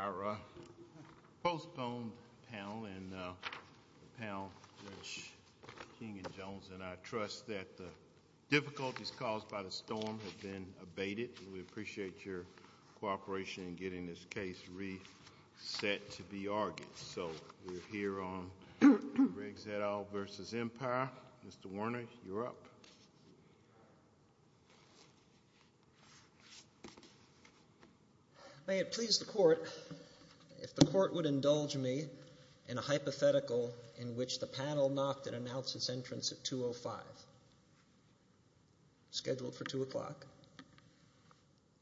Our postponed panel, Judge King and Jones, and I trust that the difficulties caused by the storm have been abated. We appreciate your cooperation in getting this case reset to be argued. So we're here on Riggs et al. v. Empire. Mr. Werner, you're up. May it please the Court if the Court would indulge me in a hypothetical in which the panel knocked and announced its entrance at 2 o'clock.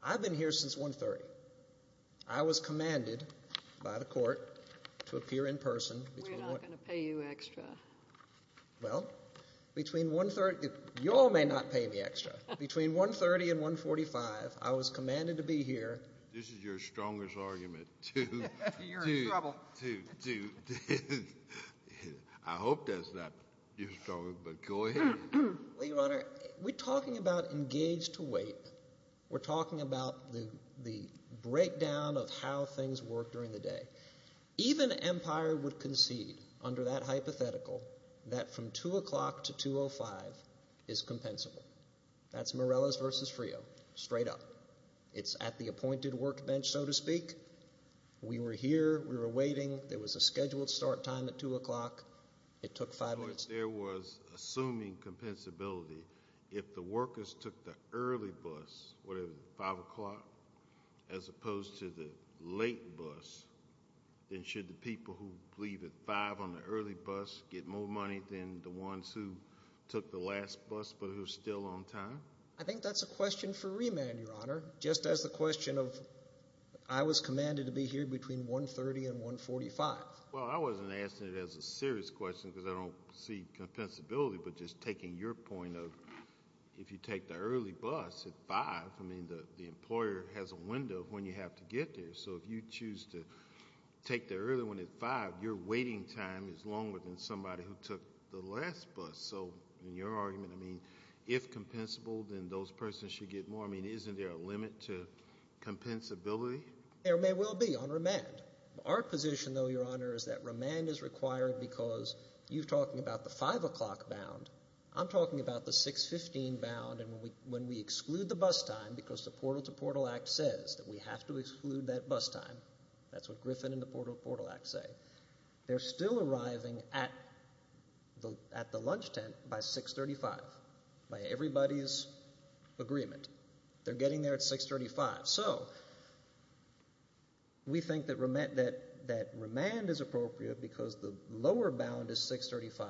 I've been here since 1 o'clock. I was commanded by the Court to appear in person. We're not going to pay you extra. Well, between 1 – you all may not pay me extra. Between 1.30 and 1.45, I was commanded to be here. This is your strongest argument. You're in trouble. I hope that's not your strongest, but go ahead. Well, Your Honor, we're talking about engaged to wait. We're talking about the breakdown of how things work during the day. Even Empire would concede under that hypothetical that from 2 o'clock to 2.05 is compensable. That's Morelos v. Frio, straight up. It's at the appointed workbench, so to speak. We were here. We were waiting. There was a scheduled start time at 2 o'clock. It took five minutes. There was assuming compensability. If the workers took the early bus, 5 o'clock, as opposed to the late bus, then should the people who leave at 5 on the early bus get more money than the ones who took the last bus but who are still on time? I think that's a question for remand, Your Honor, just as the question of I was commanded to be here between 1.30 and 1.45. Well, I wasn't asking it as a serious question because I don't see compensability, but just taking your point of if you take the early bus at 5, I mean, the employer has a window of when you have to get there. So if you choose to take the early one at 5, your waiting time is longer than somebody who took the last bus. So in your argument, I mean, if compensable, then those persons should get more. I mean, isn't there a limit to compensability? There may well be on remand. Our position, though, Your Honor, is that remand is required because you're talking about the 5 o'clock bound. I'm talking about the 6.15 bound, and when we exclude the bus time because the Portal to Portal Act says that we have to exclude that bus time. That's what Griffin and the Portal to Portal Act say. They're still arriving at the lunch tent by 6.35, by everybody's agreement. They're getting there at 6.35. So we think that remand is appropriate because the lower bound is 6.35.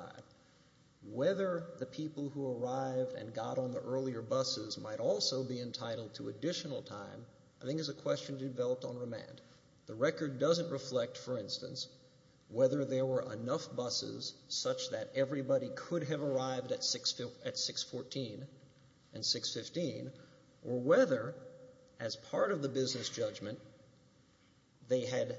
Whether the people who arrived and got on the earlier buses might also be entitled to additional time I think is a question developed on remand. The record doesn't reflect, for instance, whether there were enough buses such that everybody could have arrived at 6.14 and 6.15 or whether as part of the business judgment they had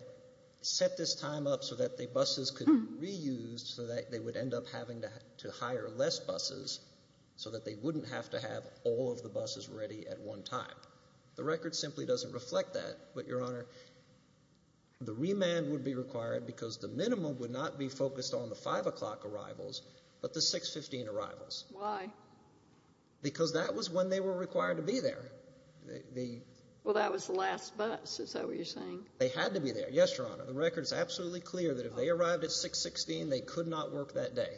set this time up so that the buses could be reused so that they would end up having to hire less buses so that they wouldn't have to have all of the buses ready at one time. The record simply doesn't reflect that. But, Your Honor, the remand would be required because the minimum would not be focused on the 5 o'clock arrivals but the 6.15 arrivals. Why? Because that was when they were required to be there. Well, that was the last bus, is that what you're saying? They had to be there, yes, Your Honor. The record is absolutely clear that if they arrived at 6.16, they could not work that day.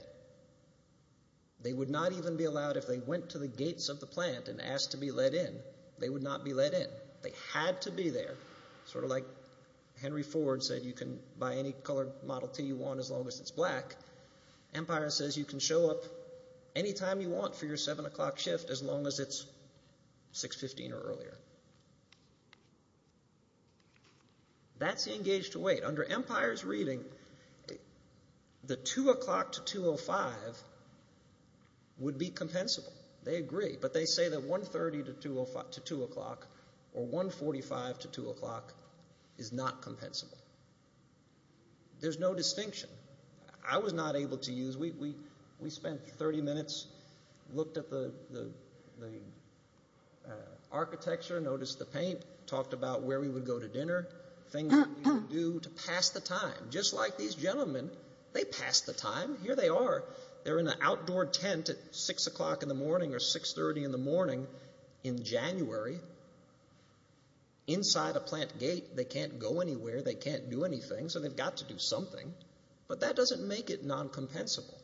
They would not even be allowed if they went to the gates of the plant and asked to be let in. They would not be let in. They had to be there, sort of like Henry Ford said you can buy any color Model T you want as long as it's black. Empire says you can show up any time you want for your 7 o'clock shift as long as it's 6.15 or earlier. That's the engaged wait. Under Empire's reading, the 2 o'clock to 2.05 would be compensable. They agree, but they say that 1.30 to 2 o'clock or 1.45 to 2 o'clock is not compensable. There's no distinction. I was not able to use it. We spent 30 minutes, looked at the architecture, noticed the paint, talked about where we would go to dinner, things we needed to do to pass the time. Just like these gentlemen, they pass the time. Here they are. They're in an outdoor tent at 6 o'clock in the morning or 6.30 in the morning in January. Inside a plant gate, they can't go anywhere. They can't do anything, so they've got to do something. But that doesn't make it non-compensable.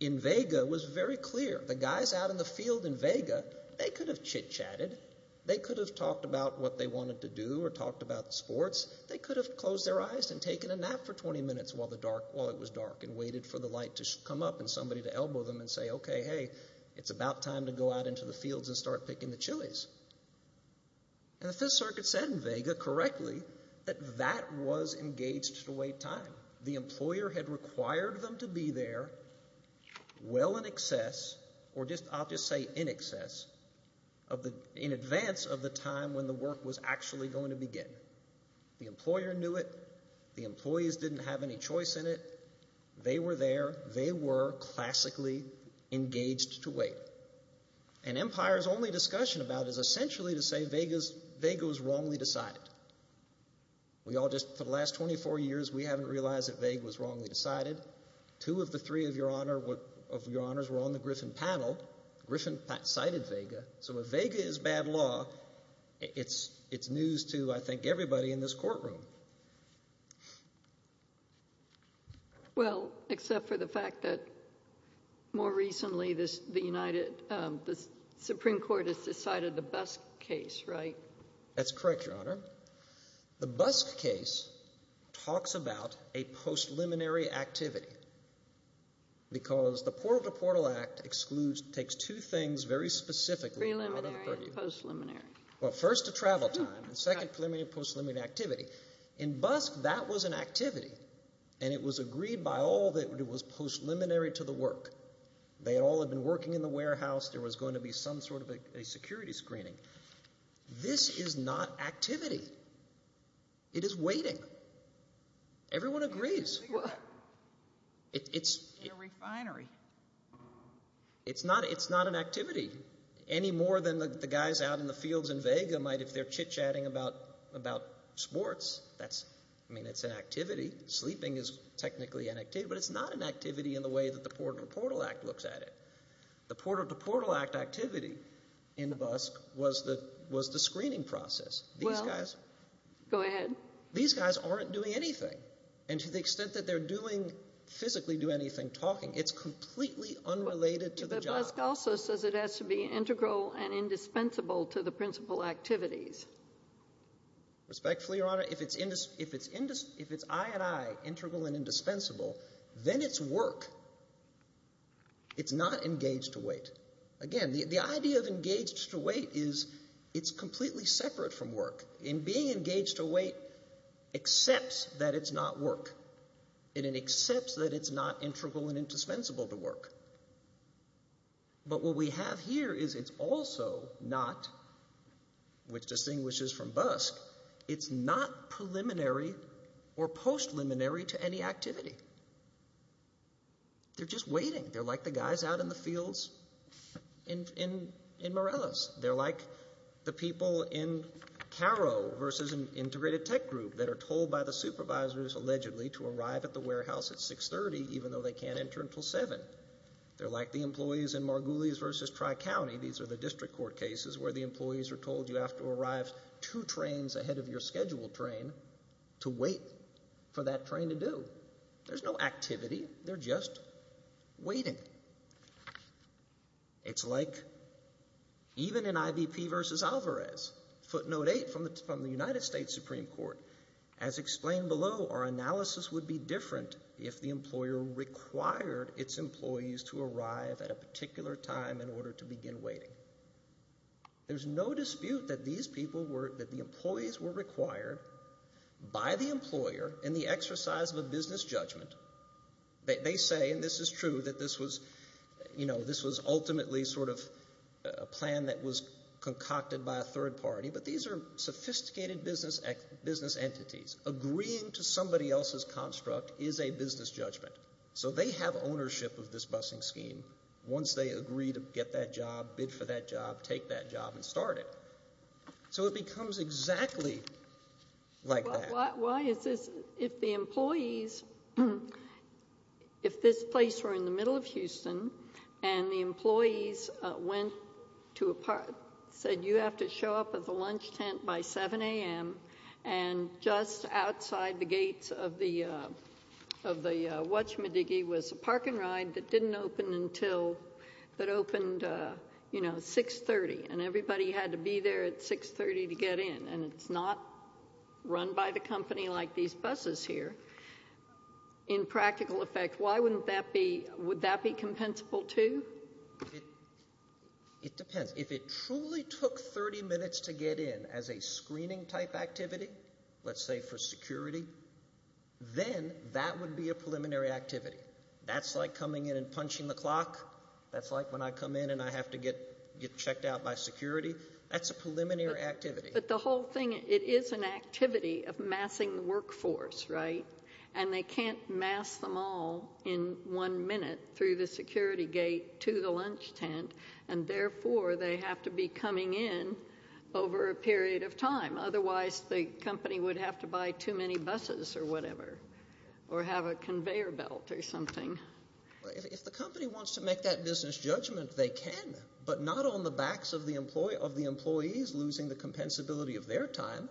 In Vega, it was very clear. The guys out in the field in Vega, they could have chit-chatted. They could have talked about what they wanted to do or talked about sports. They could have closed their eyes and taken a nap for 20 minutes while it was dark and waited for the light to come up and somebody to elbow them and say, okay, hey, it's about time to go out into the fields and start picking the chilies. And the Fifth Circuit said in Vega correctly that that was engaged-to-wait time. The employer had required them to be there well in excess, or I'll just say in excess, in advance of the time when the work was actually going to begin. The employer knew it. The employees didn't have any choice in it. They were there. They were classically engaged-to-wait. And Empire's only discussion about it is essentially to say Vega was wrongly decided. For the last 24 years, we haven't realized that Vega was wrongly decided. Two of the three of your honors were on the Griffin panel. Griffin cited Vega. So if Vega is bad law, it's news to, I think, everybody in this courtroom. Well, except for the fact that more recently the Supreme Court has decided the Busk case, right? That's correct, Your Honor. The Busk case talks about a post-liminary activity because the Portal-to-Portal Act excludes, takes two things very specifically. Preliminary and post-liminary. Well, first, the travel time, and second, preliminary and post-liminary activity. In Busk, that was an activity, and it was agreed by all that it was post-liminary to the work. They all had been working in the warehouse. There was going to be some sort of a security screening. This is not activity. It is waiting. Everyone agrees. In a refinery. It's not an activity any more than the guys out in the fields in Vega might if they're chit-chatting about sports. I mean, it's an activity. Sleeping is technically an activity. But it's not an activity in the way that the Portal-to-Portal Act looks at it. The Portal-to-Portal Act activity in Busk was the screening process. Well, go ahead. These guys aren't doing anything. And to the extent that they're physically doing anything, talking, it's completely unrelated to the job. Busk also says it has to be integral and indispensable to the principal activities. Respectfully, Your Honor, if it's eye-at-eye, integral and indispensable, then it's work. It's not engaged to wait. Again, the idea of engaged to wait is it's completely separate from work. And being engaged to wait accepts that it's not work. And it accepts that it's not integral and indispensable to work. But what we have here is it's also not, which distinguishes from Busk, it's not preliminary or post-liminary to any activity. They're just waiting. They're like the guys out in the fields in Morellas. They're like the people in Caro versus an integrated tech group that are told by the supervisors, allegedly, to arrive at the warehouse at 630 even though they can't enter until 7. They're like the employees in Margulies versus Tri-County. These are the district court cases where the employees are told you have to arrive two trains ahead of your scheduled train to wait for that train to do. There's no activity. They're just waiting. It's like even in IVP versus Alvarez, footnote 8 from the United States Supreme Court. As explained below, our analysis would be different if the employer required its employees to arrive at a particular time in order to begin waiting. There's no dispute that these people were, that the employees were required by the employer in the exercise of a business judgment. They say, and this is true, that this was ultimately sort of a plan that was concocted by a third party, but these are sophisticated business entities. Agreeing to somebody else's construct is a business judgment. So they have ownership of this busing scheme once they agree to get that job, bid for that job, take that job, and start it. So it becomes exactly like that. Why is this? If the employees, if this place were in the middle of Houston and the employees went to a park, said you have to show up at the lunch tent by 7 a.m., and just outside the gates of the watchman diggy was a park and ride that didn't open until, that opened, you know, 6.30, and everybody had to be there at 6.30 to get in, and it's not run by the company like these buses here. In practical effect, why wouldn't that be, would that be compensable too? It depends. If it truly took 30 minutes to get in as a screening type activity, let's say for security, then that would be a preliminary activity. That's like coming in and punching the clock. That's like when I come in and I have to get checked out by security. That's a preliminary activity. But the whole thing, it is an activity of massing the workforce, right? And they can't mass them all in one minute through the security gate to the lunch tent, and therefore they have to be coming in over a period of time. Otherwise the company would have to buy too many buses or whatever or have a conveyor belt or something. Well, if the company wants to make that business judgment, they can, but not on the backs of the employees losing the compensability of their time.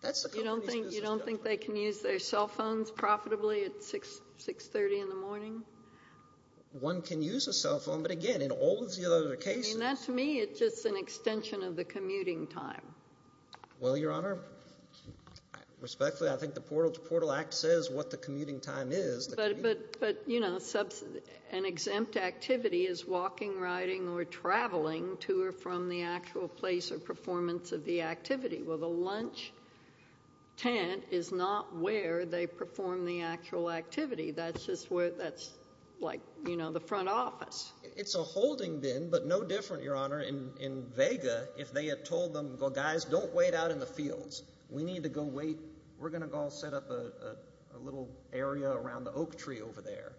That's the company's business judgment. You don't think they can use their cell phones profitably at 6.30 in the morning? One can use a cell phone, but again, in all of the other cases. I mean, that to me is just an extension of the commuting time. Well, Your Honor, respectfully, I think the Portal to Portal Act says what the commuting time is. But, you know, an exempt activity is walking, riding, or traveling to or from the actual place or performance of the activity. Well, the lunch tent is not where they perform the actual activity. That's just where that's like, you know, the front office. It's a holding bin, but no different, Your Honor. In Vega, if they had told them, well, guys, don't wait out in the fields. We need to go wait. We set up a little area around the oak tree over there.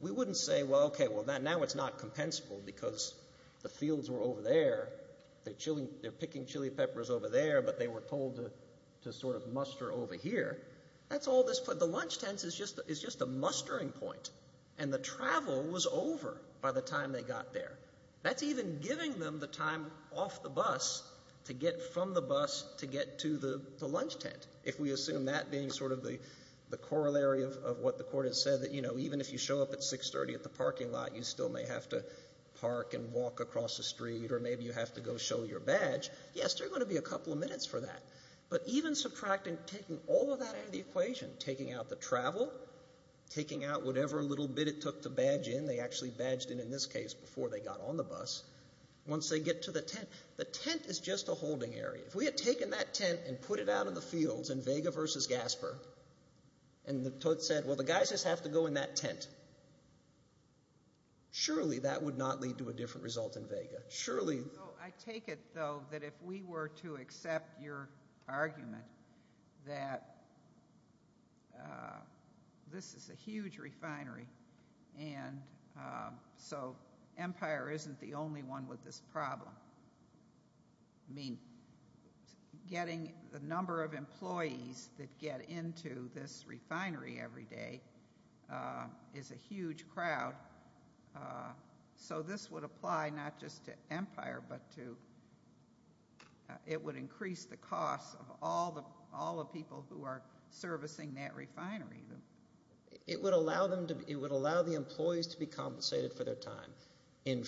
We wouldn't say, well, okay, well, now it's not compensable because the fields were over there. They're picking chili peppers over there, but they were told to sort of muster over here. That's all this. The lunch tent is just a mustering point, and the travel was over by the time they got there. That's even giving them the time off the bus to get from the bus to get to the lunch tent, if we assume that being sort of the corollary of what the court has said, that, you know, even if you show up at 630 at the parking lot, you still may have to park and walk across the street, or maybe you have to go show your badge. Yes, there are going to be a couple of minutes for that, but even subtracting, taking all of that out of the equation, taking out the travel, taking out whatever little bit it took to badge in. They actually badged in, in this case, before they got on the bus once they get to the tent. The tent is just a holding area. If we had taken that tent and put it out in the fields in Vega versus Gaspar, and the court said, well, the guys just have to go in that tent, surely that would not lead to a different result in Vega. Surely. I take it, though, that if we were to accept your argument that this is a huge refinery and so Empire isn't the only one with this problem. I mean, getting the number of employees that get into this refinery every day is a huge crowd. So this would apply not just to Empire, but it would increase the cost of all the people who are servicing that refinery. It would allow the employees to be compensated for their time. In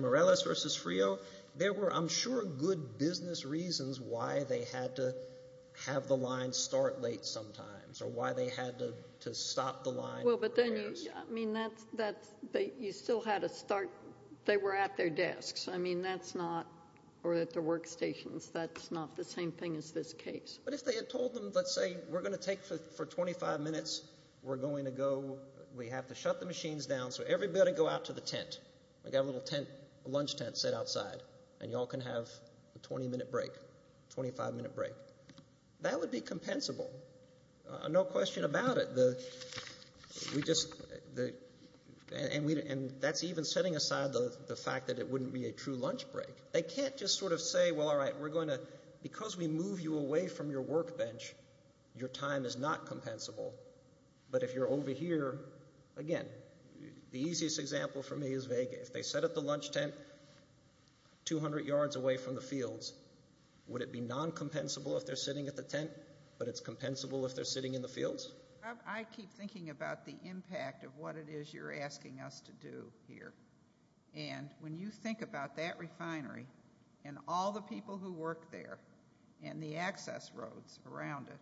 Morales versus Frio, there were, I'm sure, good business reasons why they had to have the line start late sometimes or why they had to stop the line. Well, but then you still had to start. They were at their desks. I mean, that's not, or at their workstations. That's not the same thing as this case. But if they had told them, let's say, we're going to take for 25 minutes. We're going to go. We have to shut the machines down, so everybody go out to the tent. I got a little tent, a lunch tent set outside, and you all can have a 20-minute break, 25-minute break. That would be compensable. No question about it. And that's even setting aside the fact that it wouldn't be a true lunch break. They can't just sort of say, well, all right, we're going to, because we move you away from your workbench, your time is not compensable. But if you're over here, again, the easiest example for me is Vega. If they set up the lunch tent 200 yards away from the fields, would it be non-compensable if they're sitting at the tent, but it's compensable if they're sitting in the fields? I keep thinking about the impact of what it is you're asking us to do here. And when you think about that refinery and all the people who work there and the access roads around it,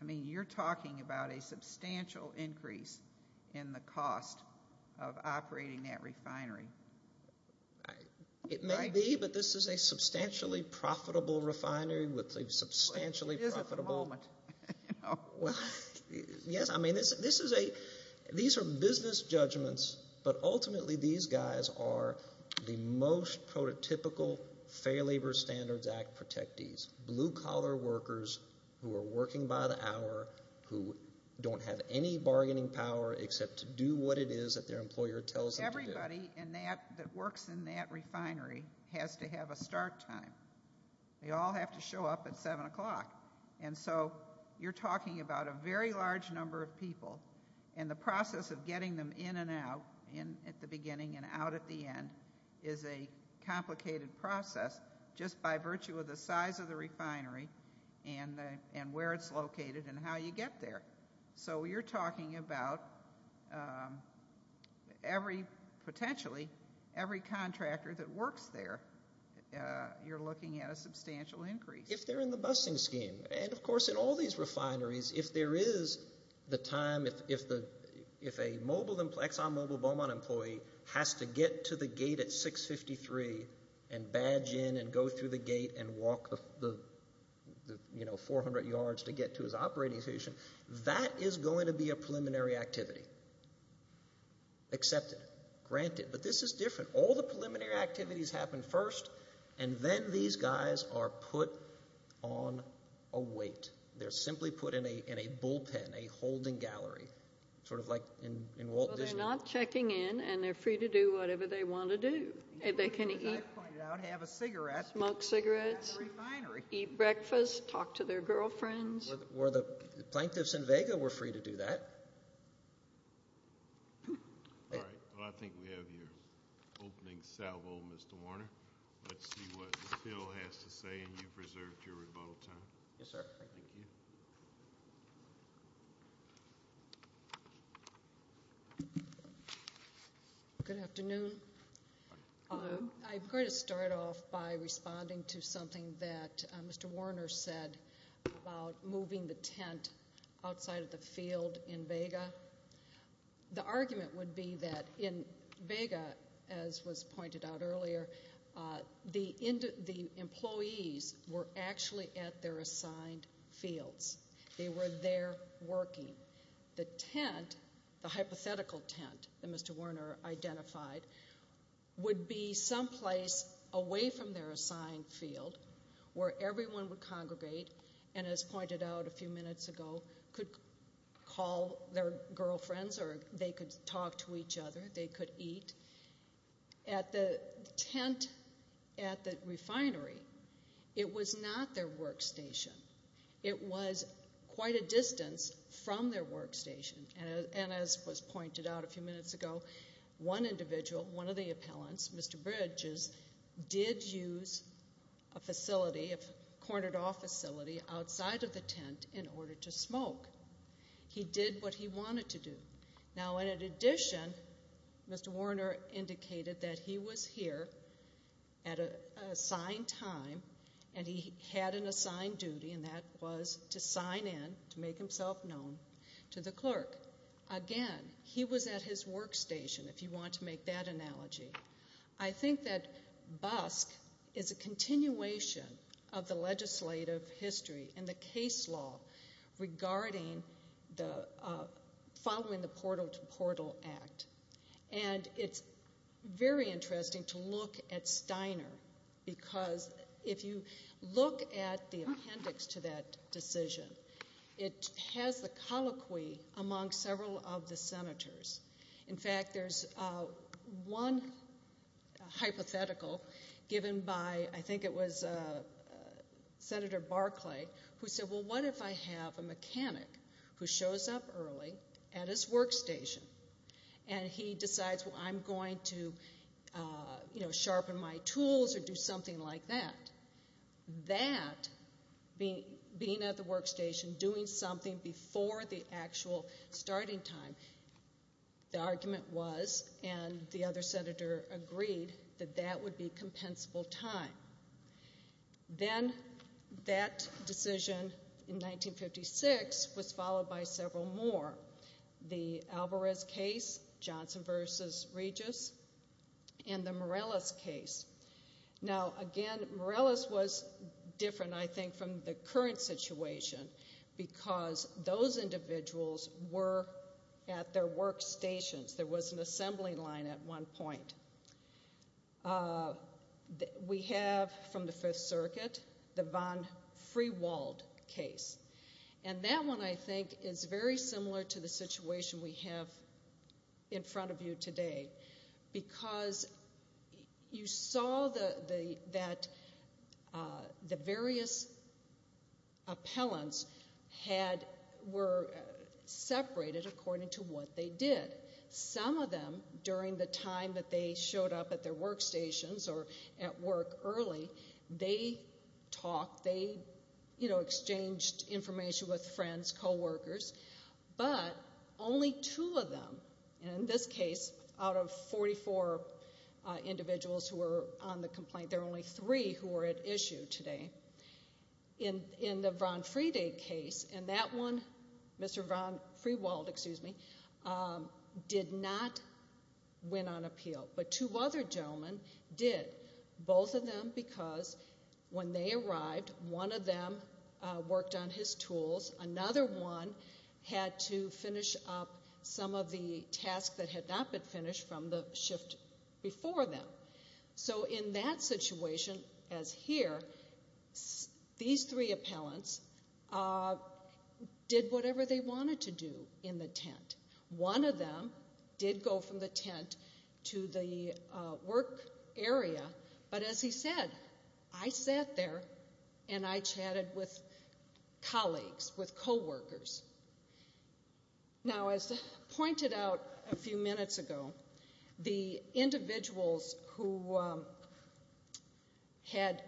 I mean, you're talking about a substantial increase in the cost of operating that refinery. It may be, but this is a substantially profitable refinery with a substantially profitable – Well, it is at the moment. Yes, I mean, this is a – these are business judgments, but ultimately these guys are the most prototypical Fair Labor Standards Act protectees, blue-collar workers who are working by the hour, who don't have any bargaining power except to do what it is that their employer tells them to do. Everybody that works in that refinery has to have a start time. They all have to show up at 7 o'clock. And so you're talking about a very large number of people, and the process of getting them in and out, in at the beginning and out at the end, is a complicated process just by virtue of the size of the refinery and where it's located and how you get there. So you're talking about every – potentially every contractor that works there, you're looking at a substantial increase. If they're in the busing scheme, and, of course, in all these refineries, if there is the time – if a mobile – Exxon Mobil Beaumont employee has to get to the gate at 6.53 and badge in and go through the gate and walk the, you know, 400 yards to get to his operating station, that is going to be a preliminary activity. Accepted, granted, but this is different. All the preliminary activities happen first, and then these guys are put on a wait. They're simply put in a bullpen, a holding gallery, sort of like in Walt Disney World. Well, they're not checking in, and they're free to do whatever they want to do. They can eat, smoke cigarettes, eat breakfast, talk to their girlfriends. The plaintiffs in Vega were free to do that. All right. Well, I think we have your opening salvo, Mr. Warner. Let's see what Bill has to say, and you've reserved your rebuttal time. Yes, sir. Thank you. Good afternoon. I'm going to start off by responding to something that Mr. Warner said about moving the tent outside of the field in Vega. The argument would be that in Vega, as was pointed out earlier, the employees were actually at their assigned fields. They were there working. The tent, the hypothetical tent that Mr. Warner identified, would be someplace away from their assigned field where everyone would congregate and, as pointed out a few minutes ago, could call their girlfriends or they could talk to each other. They could eat. At the tent at the refinery, it was not their workstation. It was quite a distance from their workstation, and as was pointed out a few minutes ago, one individual, one of the appellants, Mr. Bridges, did use a facility, a cornered-off facility, outside of the tent in order to smoke. He did what he wanted to do. Now, in addition, Mr. Warner indicated that he was here at an assigned time, and he had an assigned duty, and that was to sign in, to make himself known, to the clerk. Again, he was at his workstation, if you want to make that analogy. I think that BUSC is a continuation of the legislative history and the case law regarding following the Portal to Portal Act, and it's very interesting to look at Steiner because if you look at the appendix to that decision, it has the colloquy among several of the senators. In fact, there's one hypothetical given by, I think it was Senator Barclay, who said, well, what if I have a mechanic who shows up early at his workstation, and he decides, well, I'm going to sharpen my tools or do something like that. That, being at the workstation, doing something before the actual starting time, the argument was, and the other senator agreed, that that would be compensable time. Then that decision in 1956 was followed by several more. The Alvarez case, Johnson v. Regis, and the Morales case. Now, again, Morales was different, I think, from the current situation because those individuals were at their workstations. There was an assembly line at one point. We have, from the Fifth Circuit, the von Friewald case, and that one, I think, is very similar to the situation we have in front of you today because you saw that the various appellants were separated according to what they did. Some of them, during the time that they showed up at their workstations or at work early, they talked, they exchanged information with friends, coworkers, but only two of them, and in this case, out of 44 individuals who were on the complaint, there were only three who were at issue today. In the von Friede case, and that one, Mr. von Friewald, excuse me, did not win on appeal, but two other gentlemen did, both of them because when they arrived, one of them worked on his tools, another one had to finish up some of the tasks that had not been finished from the shift before them. So in that situation, as here, these three appellants did whatever they wanted to do in the tent. One of them did go from the tent to the work area, but as he said, I sat there and I chatted with colleagues, with coworkers. Now, as pointed out a few minutes ago, the individuals who had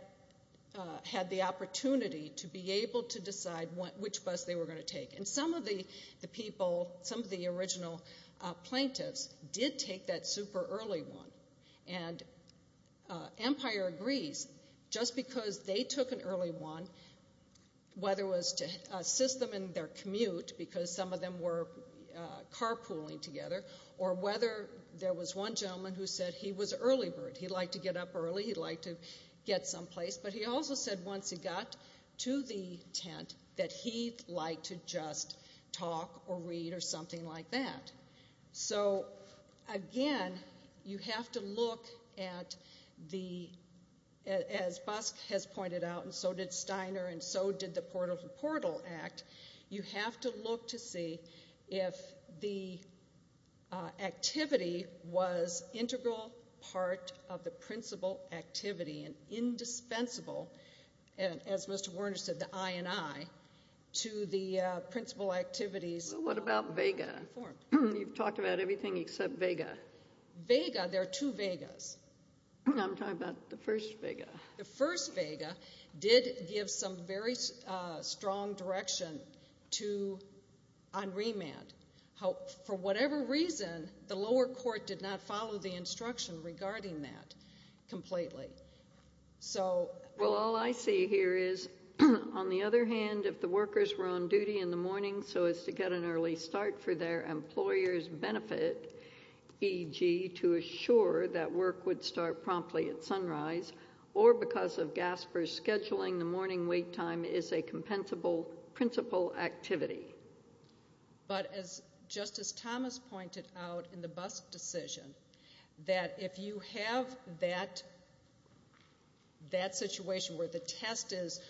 the opportunity to be able to decide which bus they were going to take, and some of the people, some of the original plaintiffs, did take that super early one, and Empire agrees, just because they took an early one, whether it was to assist them in their commute, because some of them were carpooling together, or whether there was one gentleman who said he was early bird, he liked to get up early, he liked to get someplace, but he also said once he got to the tent that he liked to just talk or read or something like that. So, again, you have to look at the, as Busk has pointed out, and so did Steiner, and so did the Portal to Portal Act, you have to look to see if the activity was integral part of the principal activity and indispensable, as Mr. Warner said, the I and I, to the principal activities. Well, what about vega? You've talked about everything except vega. Vega, there are two vegas. I'm talking about the first vega. The first vega did give some very strong direction on remand. For whatever reason, the lower court did not follow the instruction regarding that completely. Well, all I see here is, on the other hand, if the workers were on duty in the morning so as to get an early start for their employer's benefit, e.g. to assure that work would start promptly at sunrise, or because of Gasper's scheduling, the morning wait time is a compensable principal activity. But as Justice Thomas pointed out in the Busk decision, that if you have that situation where the test is,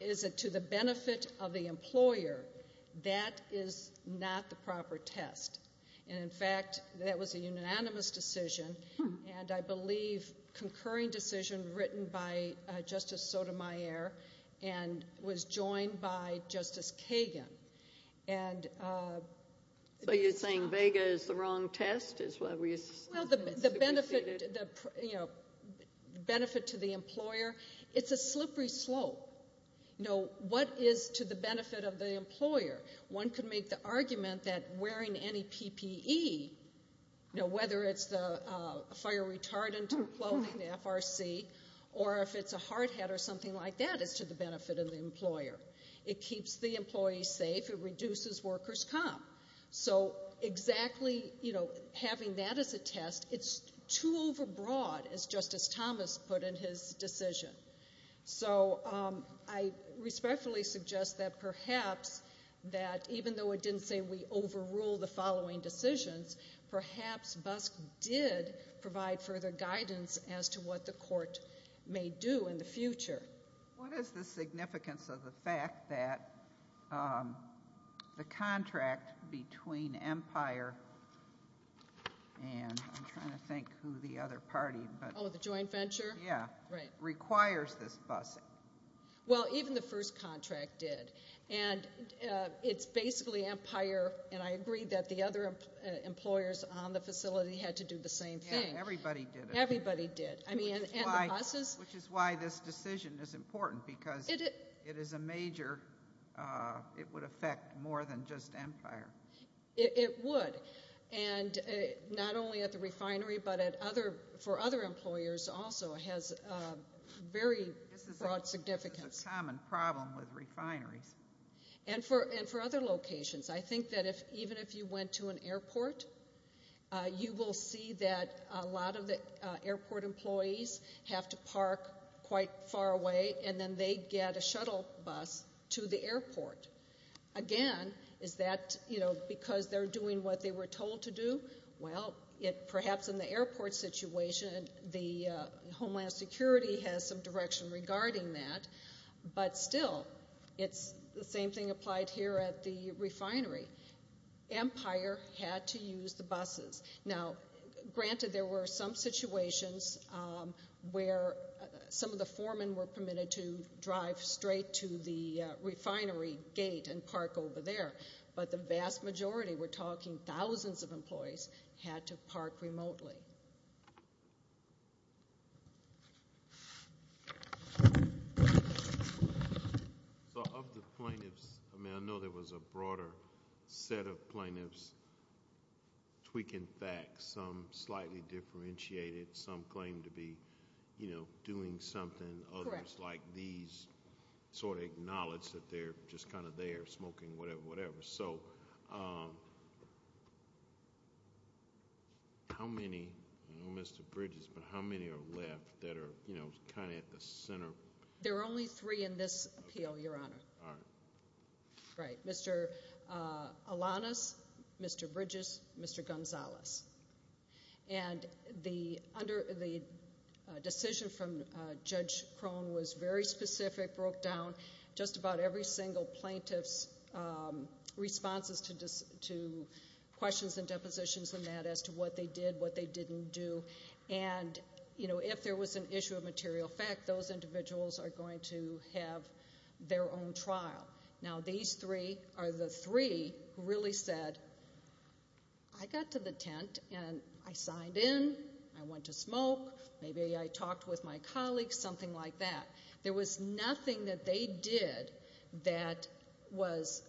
is it to the benefit of the employer, that is not the proper test. And, in fact, that was a unanimous decision, and I believe concurring decision written by Justice Sotomayor and was joined by Justice Kagan. So you're saying vega is the wrong test? Well, the benefit to the employer, it's a slippery slope. What is to the benefit of the employer? One could make the argument that wearing any PPE, whether it's the fire retardant clothing, the FRC, or if it's a hard hat or something like that is to the benefit of the employer. It keeps the employees safe. It reduces workers' comp. So exactly, you know, having that as a test, it's too overbroad, as Justice Thomas put in his decision. So I respectfully suggest that perhaps, that even though it didn't say we overrule the following decisions, perhaps BUSC did provide further guidance as to what the court may do in the future. What is the significance of the fact that the contract between Empire and I'm trying to think who the other party. Oh, the joint venture? Yeah. Right. Requires this BUSC. Well, even the first contract did. And it's basically Empire, and I agree that the other employers on the facility had to do the same thing. Yeah, everybody did it. Everybody did. Which is why this decision is important because it is a major, it would affect more than just Empire. It would. And not only at the refinery, but for other employers also has very broad significance. This is a common problem with refineries. And for other locations. I think that even if you went to an airport, you will see that a lot of the airport employees have to park quite far away, and then they get a shuttle bus to the airport. Again, is that because they're doing what they were told to do? Well, perhaps in the airport situation, the Homeland Security has some direction regarding that. But still, it's the same thing applied here at the refinery. Empire had to use the buses. Now, granted, there were some situations where some of the foremen were permitted to drive straight to the refinery gate and park over there, but the vast majority, we're talking thousands of employees, had to park remotely. Okay. So of the plaintiffs, I mean, I know there was a broader set of plaintiffs tweaking facts. Some slightly differentiated. Some claimed to be, you know, doing something. Correct. Others like these sort of acknowledged that they're just kind of there smoking, whatever, whatever. So how many, I know Mr. Bridges, but how many are left that are, you know, kind of at the center? There are only three in this appeal, Your Honor. All right. Right. Mr. Alanis, Mr. Bridges, Mr. Gonzalez. And the decision from Judge Crone was very specific, broke down just about every single plaintiff's responses to questions and depositions and that as to what they did, what they didn't do. And, you know, if there was an issue of material fact, those individuals are going to have their own trial. Now, these three are the three who really said, I got to the tent and I signed in, I went to smoke, maybe I talked with my colleagues, something like that. There was nothing that they did that was,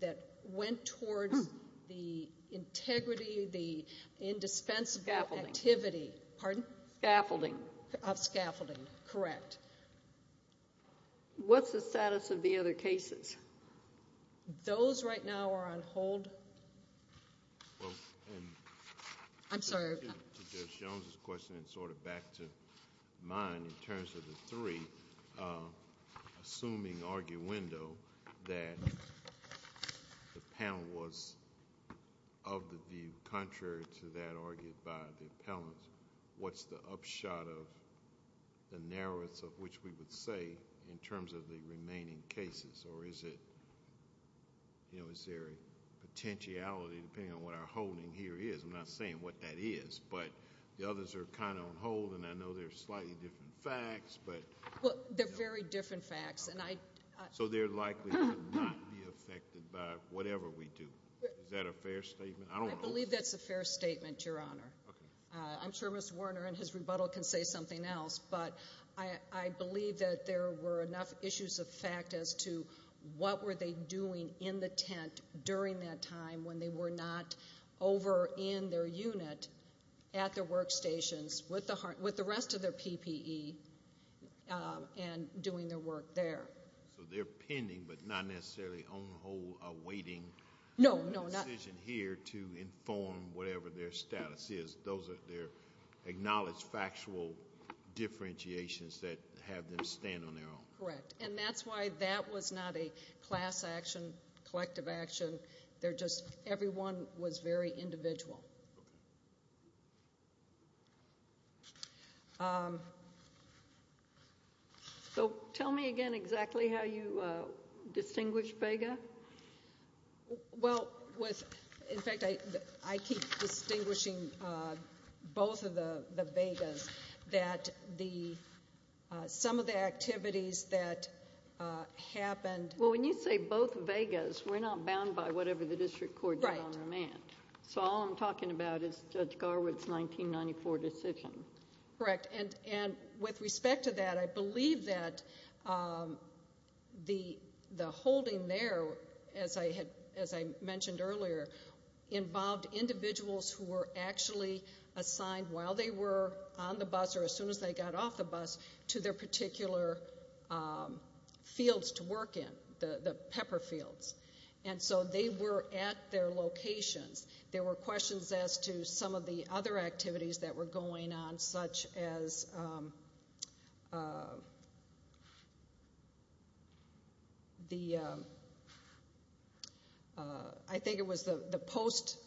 that went towards the integrity, the indispensable activity. Scaffolding. Pardon? Scaffolding. Of scaffolding. Correct. What's the status of the other cases? Those right now are on hold. I'm sorry. To Judge Jones's question and sort of back to mine in terms of the three, assuming arguendo that the panel was of the view contrary to that argued by the appellant, what's the upshot of the narrows of which we would say in terms of the remaining cases? Or is it, you know, is there a potentiality depending on what our holding here is? I'm not saying what that is, but the others are kind of on hold, and I know they're slightly different facts, but... Well, they're very different facts, and I... So they're likely to not be affected by whatever we do. Is that a fair statement? I believe that's a fair statement, Your Honor. Okay. I'm sure Mr. Werner in his rebuttal can say something else, but I believe that there were enough issues of fact as to what were they doing in the tent during that time when they were not over in their unit at their workstations with the rest of their PPE and doing their work there. So they're pending but not necessarily on hold awaiting... No, no... Those are their acknowledged factual differentiations that have them stand on their own. Correct. And that's why that was not a class action, collective action. They're just everyone was very individual. Okay. So tell me again exactly how you distinguish Vega. Well, in fact, I keep distinguishing both of the Vegas that some of the activities that happened... Well, when you say both Vegas, we're not bound by whatever the district court did on remand. Right. So all I'm talking about is Judge Garwood's 1994 decision. Correct. And with respect to that, I believe that the holding there, as I mentioned earlier, involved individuals who were actually assigned while they were on the bus or as soon as they got off the bus to their particular fields to work in, the pepper fields. And so they were at their locations. There were questions as to some of the other activities that were going on, such as the... I think it was the post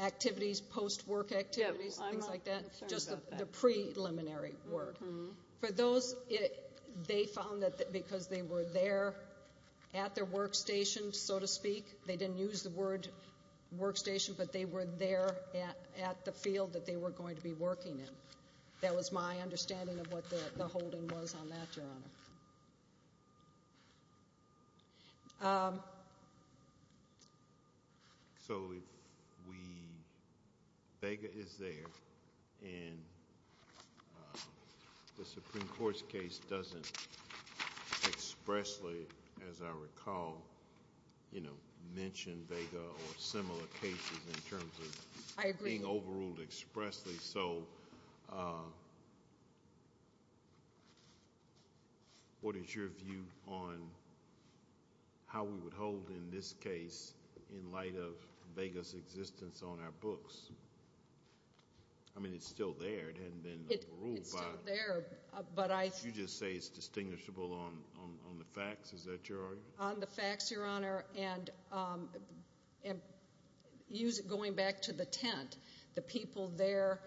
activities, post work activities, things like that. I'm not sure about that. Just the preliminary work. For those, they found that because they were there at their workstation, so to speak, they didn't use the word workstation, but they were there at the field that they were going to be working in. That was my understanding of what the holding was on that, Your Honor. So if we... Vega is there, and the Supreme Court's case doesn't expressly, as I recall, mention Vega or similar cases in terms of being overruled expressly. So what is your view on how we would hold in this case in light of Vega's existence on our books? I mean, it's still there. It hasn't been overruled by... It's still there, but I... You just say it's distinguishable on the facts. Is that your argument? On the facts, Your Honor, and going back to the tent, the people there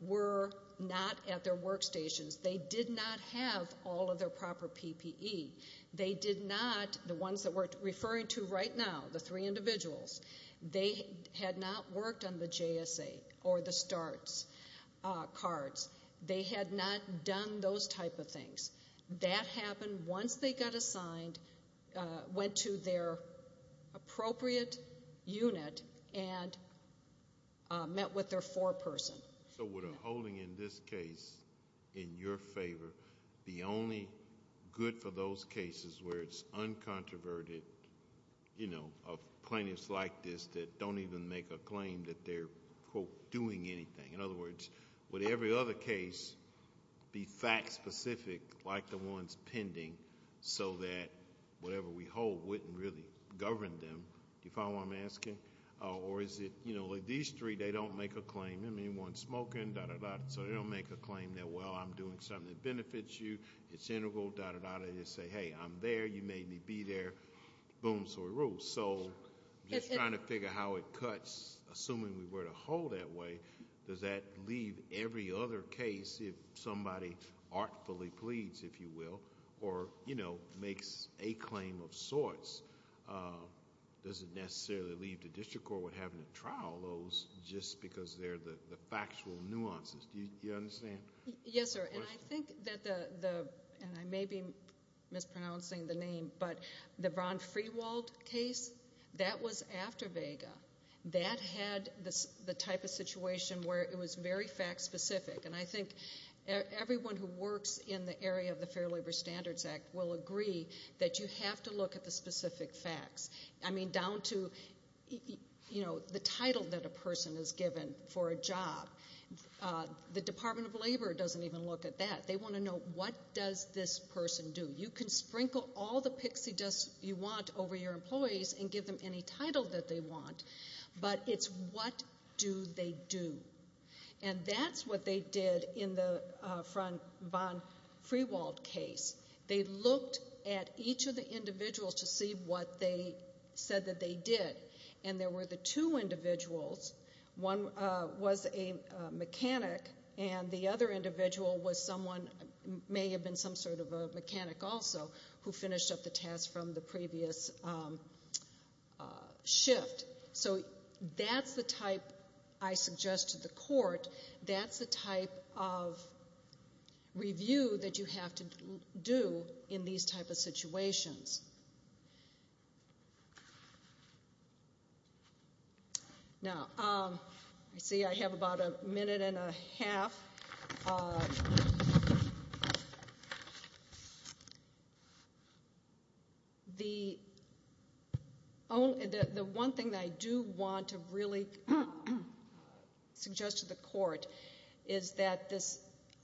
were not at their workstations. They did not have all of their proper PPE. They did not, the ones that we're referring to right now, the three individuals, they had not worked on the JSA or the starts cards. They had not done those type of things. That happened once they got assigned, went to their appropriate unit, and met with their foreperson. So would a holding in this case, in your favor, be only good for those cases where it's uncontroverted, you know, of plaintiffs like this that don't even make a claim that they're, quote, doing anything? In other words, would every other case be fact-specific, like the ones pending, so that whatever we hold wouldn't really govern them? Do you follow what I'm asking? Or is it, you know, like these three, they don't make a claim. I mean, one's smoking, dah, dah, dah. So they don't make a claim that, well, I'm doing something that benefits you. It's integral, dah, dah, dah. They just say, hey, I'm there. You made me be there. Boom. So it rules. So just trying to figure how it cuts, assuming we were to hold that way, does that leave every other case, if somebody artfully pleads, if you will, or, you know, makes a claim of sorts, does it necessarily leave the district court with having to trial those just because they're the factual nuances? Do you understand? Yes, sir. And I think that the, and I may be mispronouncing the name, but the Ron Freewald case, that was after Vega. That had the type of situation where it was very fact-specific. And I think everyone who works in the area of the Fair Labor Standards Act will agree that you have to look at the specific facts. I mean, down to, you know, the title that a person is given for a job. The Department of Labor doesn't even look at that. They want to know, what does this person do? You can sprinkle all the pixie dust you want over your employees and give them any title that they want, but it's what do they do? And that's what they did in the Ron Freewald case. They looked at each of the individuals to see what they said that they did. And there were the two individuals. One was a mechanic, and the other individual was someone, may have been some sort of a mechanic also, who finished up the task from the previous shift. So that's the type I suggest to the court. That's the type of review that you have to do in these type of situations. Now, I see I have about a minute and a half. The one thing that I do want to really suggest to the court is that this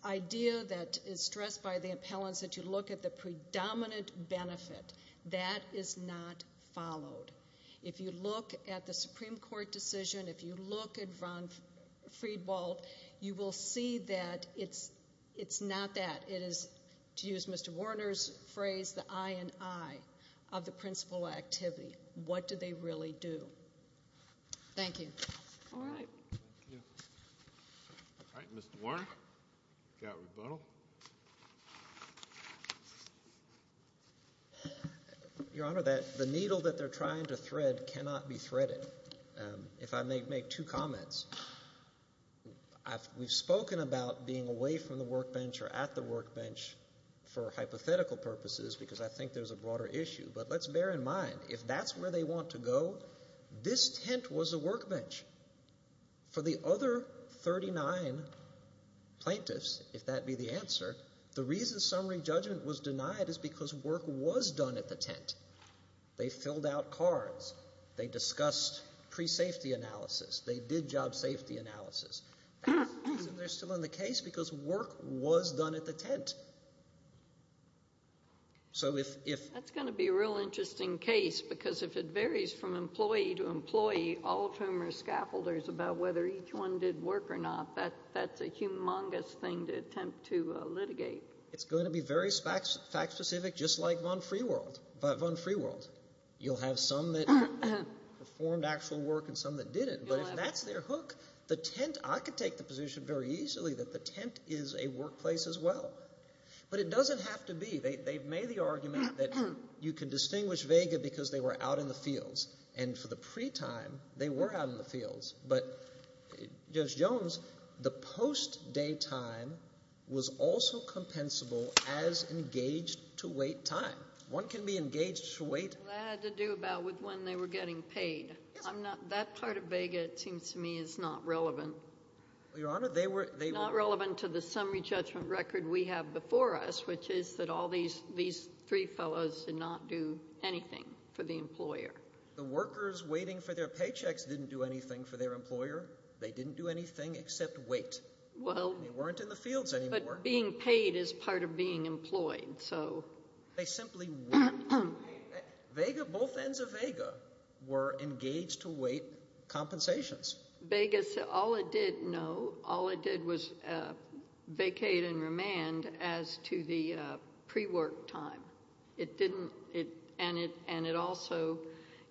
idea that is stressed by the appellants, that you look at the predominant benefit, that is not followed. If you look at the Supreme Court decision, if you look at Ron Freewald, you will see that it's not that. It is, to use Mr. Warner's phrase, the eye in eye of the principal activity. What do they really do? Thank you. All right. Thank you. All right, Mr. Warner. You've got rebuttal. Thank you. Your Honor, the needle that they're trying to thread cannot be threaded. If I may make two comments. We've spoken about being away from the workbench or at the workbench for hypothetical purposes because I think there's a broader issue, but let's bear in mind, if that's where they want to go, this tent was a workbench. For the other 39 plaintiffs, if that be the answer, the reason summary judgment was denied is because work was done at the tent. They filled out cards. They discussed pre-safety analysis. They did job safety analysis. They're still in the case because work was done at the tent. That's going to be a real interesting case because if it varies from employee to employee, all of whom are scaffolders, about whether each one did work or not, that's a humongous thing to attempt to litigate. It's going to be very fact specific, just like Von Freeworld. You'll have some that performed actual work and some that didn't. But if that's their hook, the tent, I could take the position very easily that the tent is a workplace as well. But it doesn't have to be. They've made the argument that you can distinguish vega because they were out in the fields. And for the pre-time, they were out in the fields. But, Judge Jones, the post-daytime was also compensable as engaged-to-wait time. One can be engaged-to-wait. That had to do about with when they were getting paid. Yes. I'm not — that part of vega, it seems to me, is not relevant. Your Honor, they were — It's not relevant to the summary judgment record we have before us, which is that all these three fellows did not do anything for the employer. The workers waiting for their paychecks didn't do anything for their employer. They didn't do anything except wait. Well — They weren't in the fields anymore. But being paid is part of being employed, so — They simply weren't. Vega, both ends of vega, were engaged-to-wait compensations. Vegas, all it did, no, all it did was vacate and remand as to the pre-work time. It didn't — and it also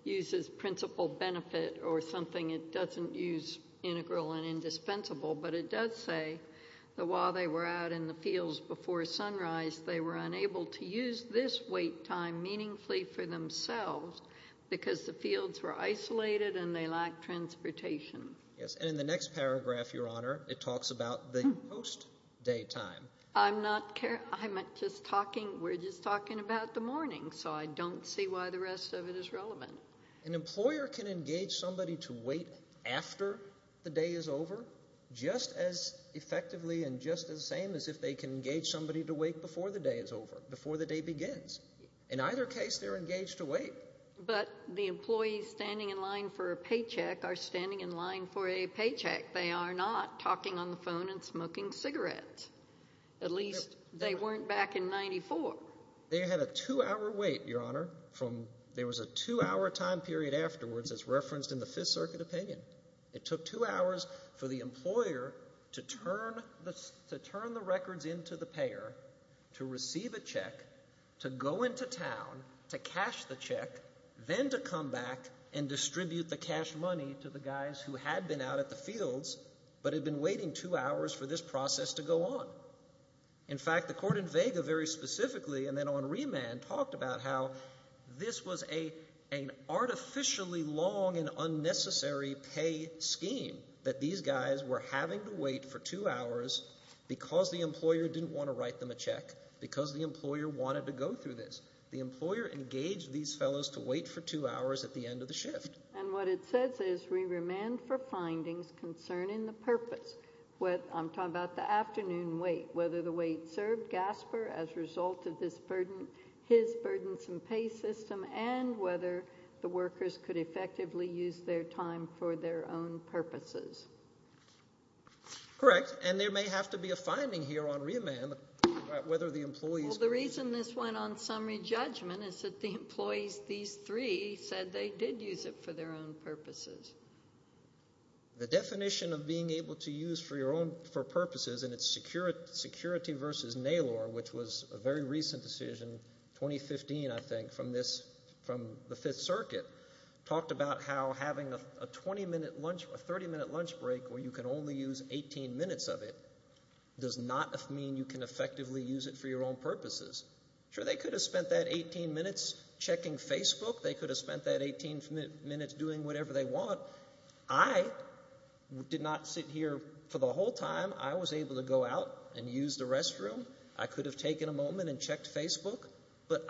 uses principal benefit or something it doesn't use, integral and indispensable. But it does say that while they were out in the fields before sunrise, they were unable to use this wait time meaningfully for themselves because the fields were isolated and they lacked transportation. Yes, and in the next paragraph, Your Honor, it talks about the post-day time. I'm not — I'm just talking — we're just talking about the morning, so I don't see why the rest of it is relevant. An employer can engage somebody to wait after the day is over just as effectively and just as same as if they can engage somebody to wait before the day is over, before the day begins. In either case, they're engaged to wait. But the employees standing in line for a paycheck are standing in line for a paycheck. They are not talking on the phone and smoking cigarettes. At least they weren't back in 1994. They had a two-hour wait, Your Honor, from — there was a two-hour time period afterwards as referenced in the Fifth Circuit opinion. It took two hours for the employer to turn the records into the payer to receive a check to go into town to cash the check, then to come back and distribute the cash money to the guys who had been out at the fields but had been waiting two hours for this process to go on. In fact, the court in Vega very specifically and then on remand talked about how this was an artificially long and unnecessary pay scheme that these guys were having to wait for two hours because the employer didn't want to write them a check, because the employer wanted to go through this. The employer engaged these fellows to wait for two hours at the end of the shift. And what it says is re-remand for findings concerning the purpose. I'm talking about the afternoon wait, whether the wait served Gasper as a result of this burden, his burdensome pay system, and whether the workers could effectively use their time for their own purposes. Correct, and there may have to be a finding here on remand about whether the employees could use it. Well, the reason this went on summary judgment is that the employees, these three, said they did use it for their own purposes. The definition of being able to use for purposes, and it's security versus NALOR, which was a very recent decision, 2015, I think, from the Fifth Circuit, talked about how having a 30-minute lunch break where you can only use 18 minutes of it does not mean you can effectively use it for your own purposes. Sure, they could have spent that 18 minutes checking Facebook. They could have spent that 18 minutes doing whatever they want. I did not sit here for the whole time. I was able to go out and use the restroom. I could have taken a moment and checked Facebook. But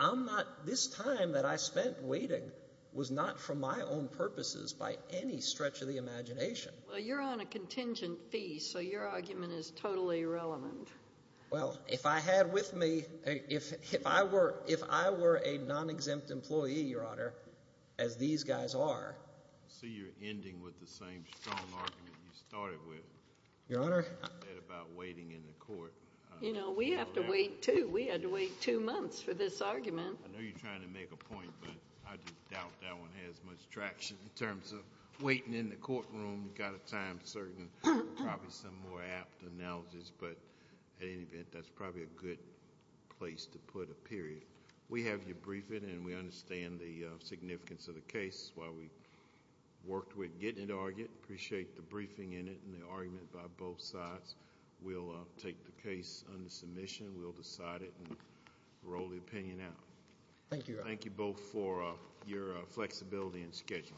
this time that I spent waiting was not for my own purposes by any stretch of the imagination. Well, you're on a contingent fee, so your argument is totally irrelevant. Well, if I had with me, if I were a non-exempt employee, Your Honor, as these guys are. I see you're ending with the same strong argument you started with. Your Honor? That about waiting in the court. You know, we have to wait, too. We had to wait two months for this argument. I know you're trying to make a point, but I just doubt that one has much traction in terms of waiting in the courtroom. You've got a time certain, probably some more apt analogies. But at any event, that's probably a good place to put a period. We have you briefed, and we understand the significance of the case. While we worked with getting it argued, appreciate the briefing in it and the argument by both sides. We'll take the case under submission. We'll decide it and roll the opinion out. Thank you, Your Honor. Thank you both for your flexibility and scheduling.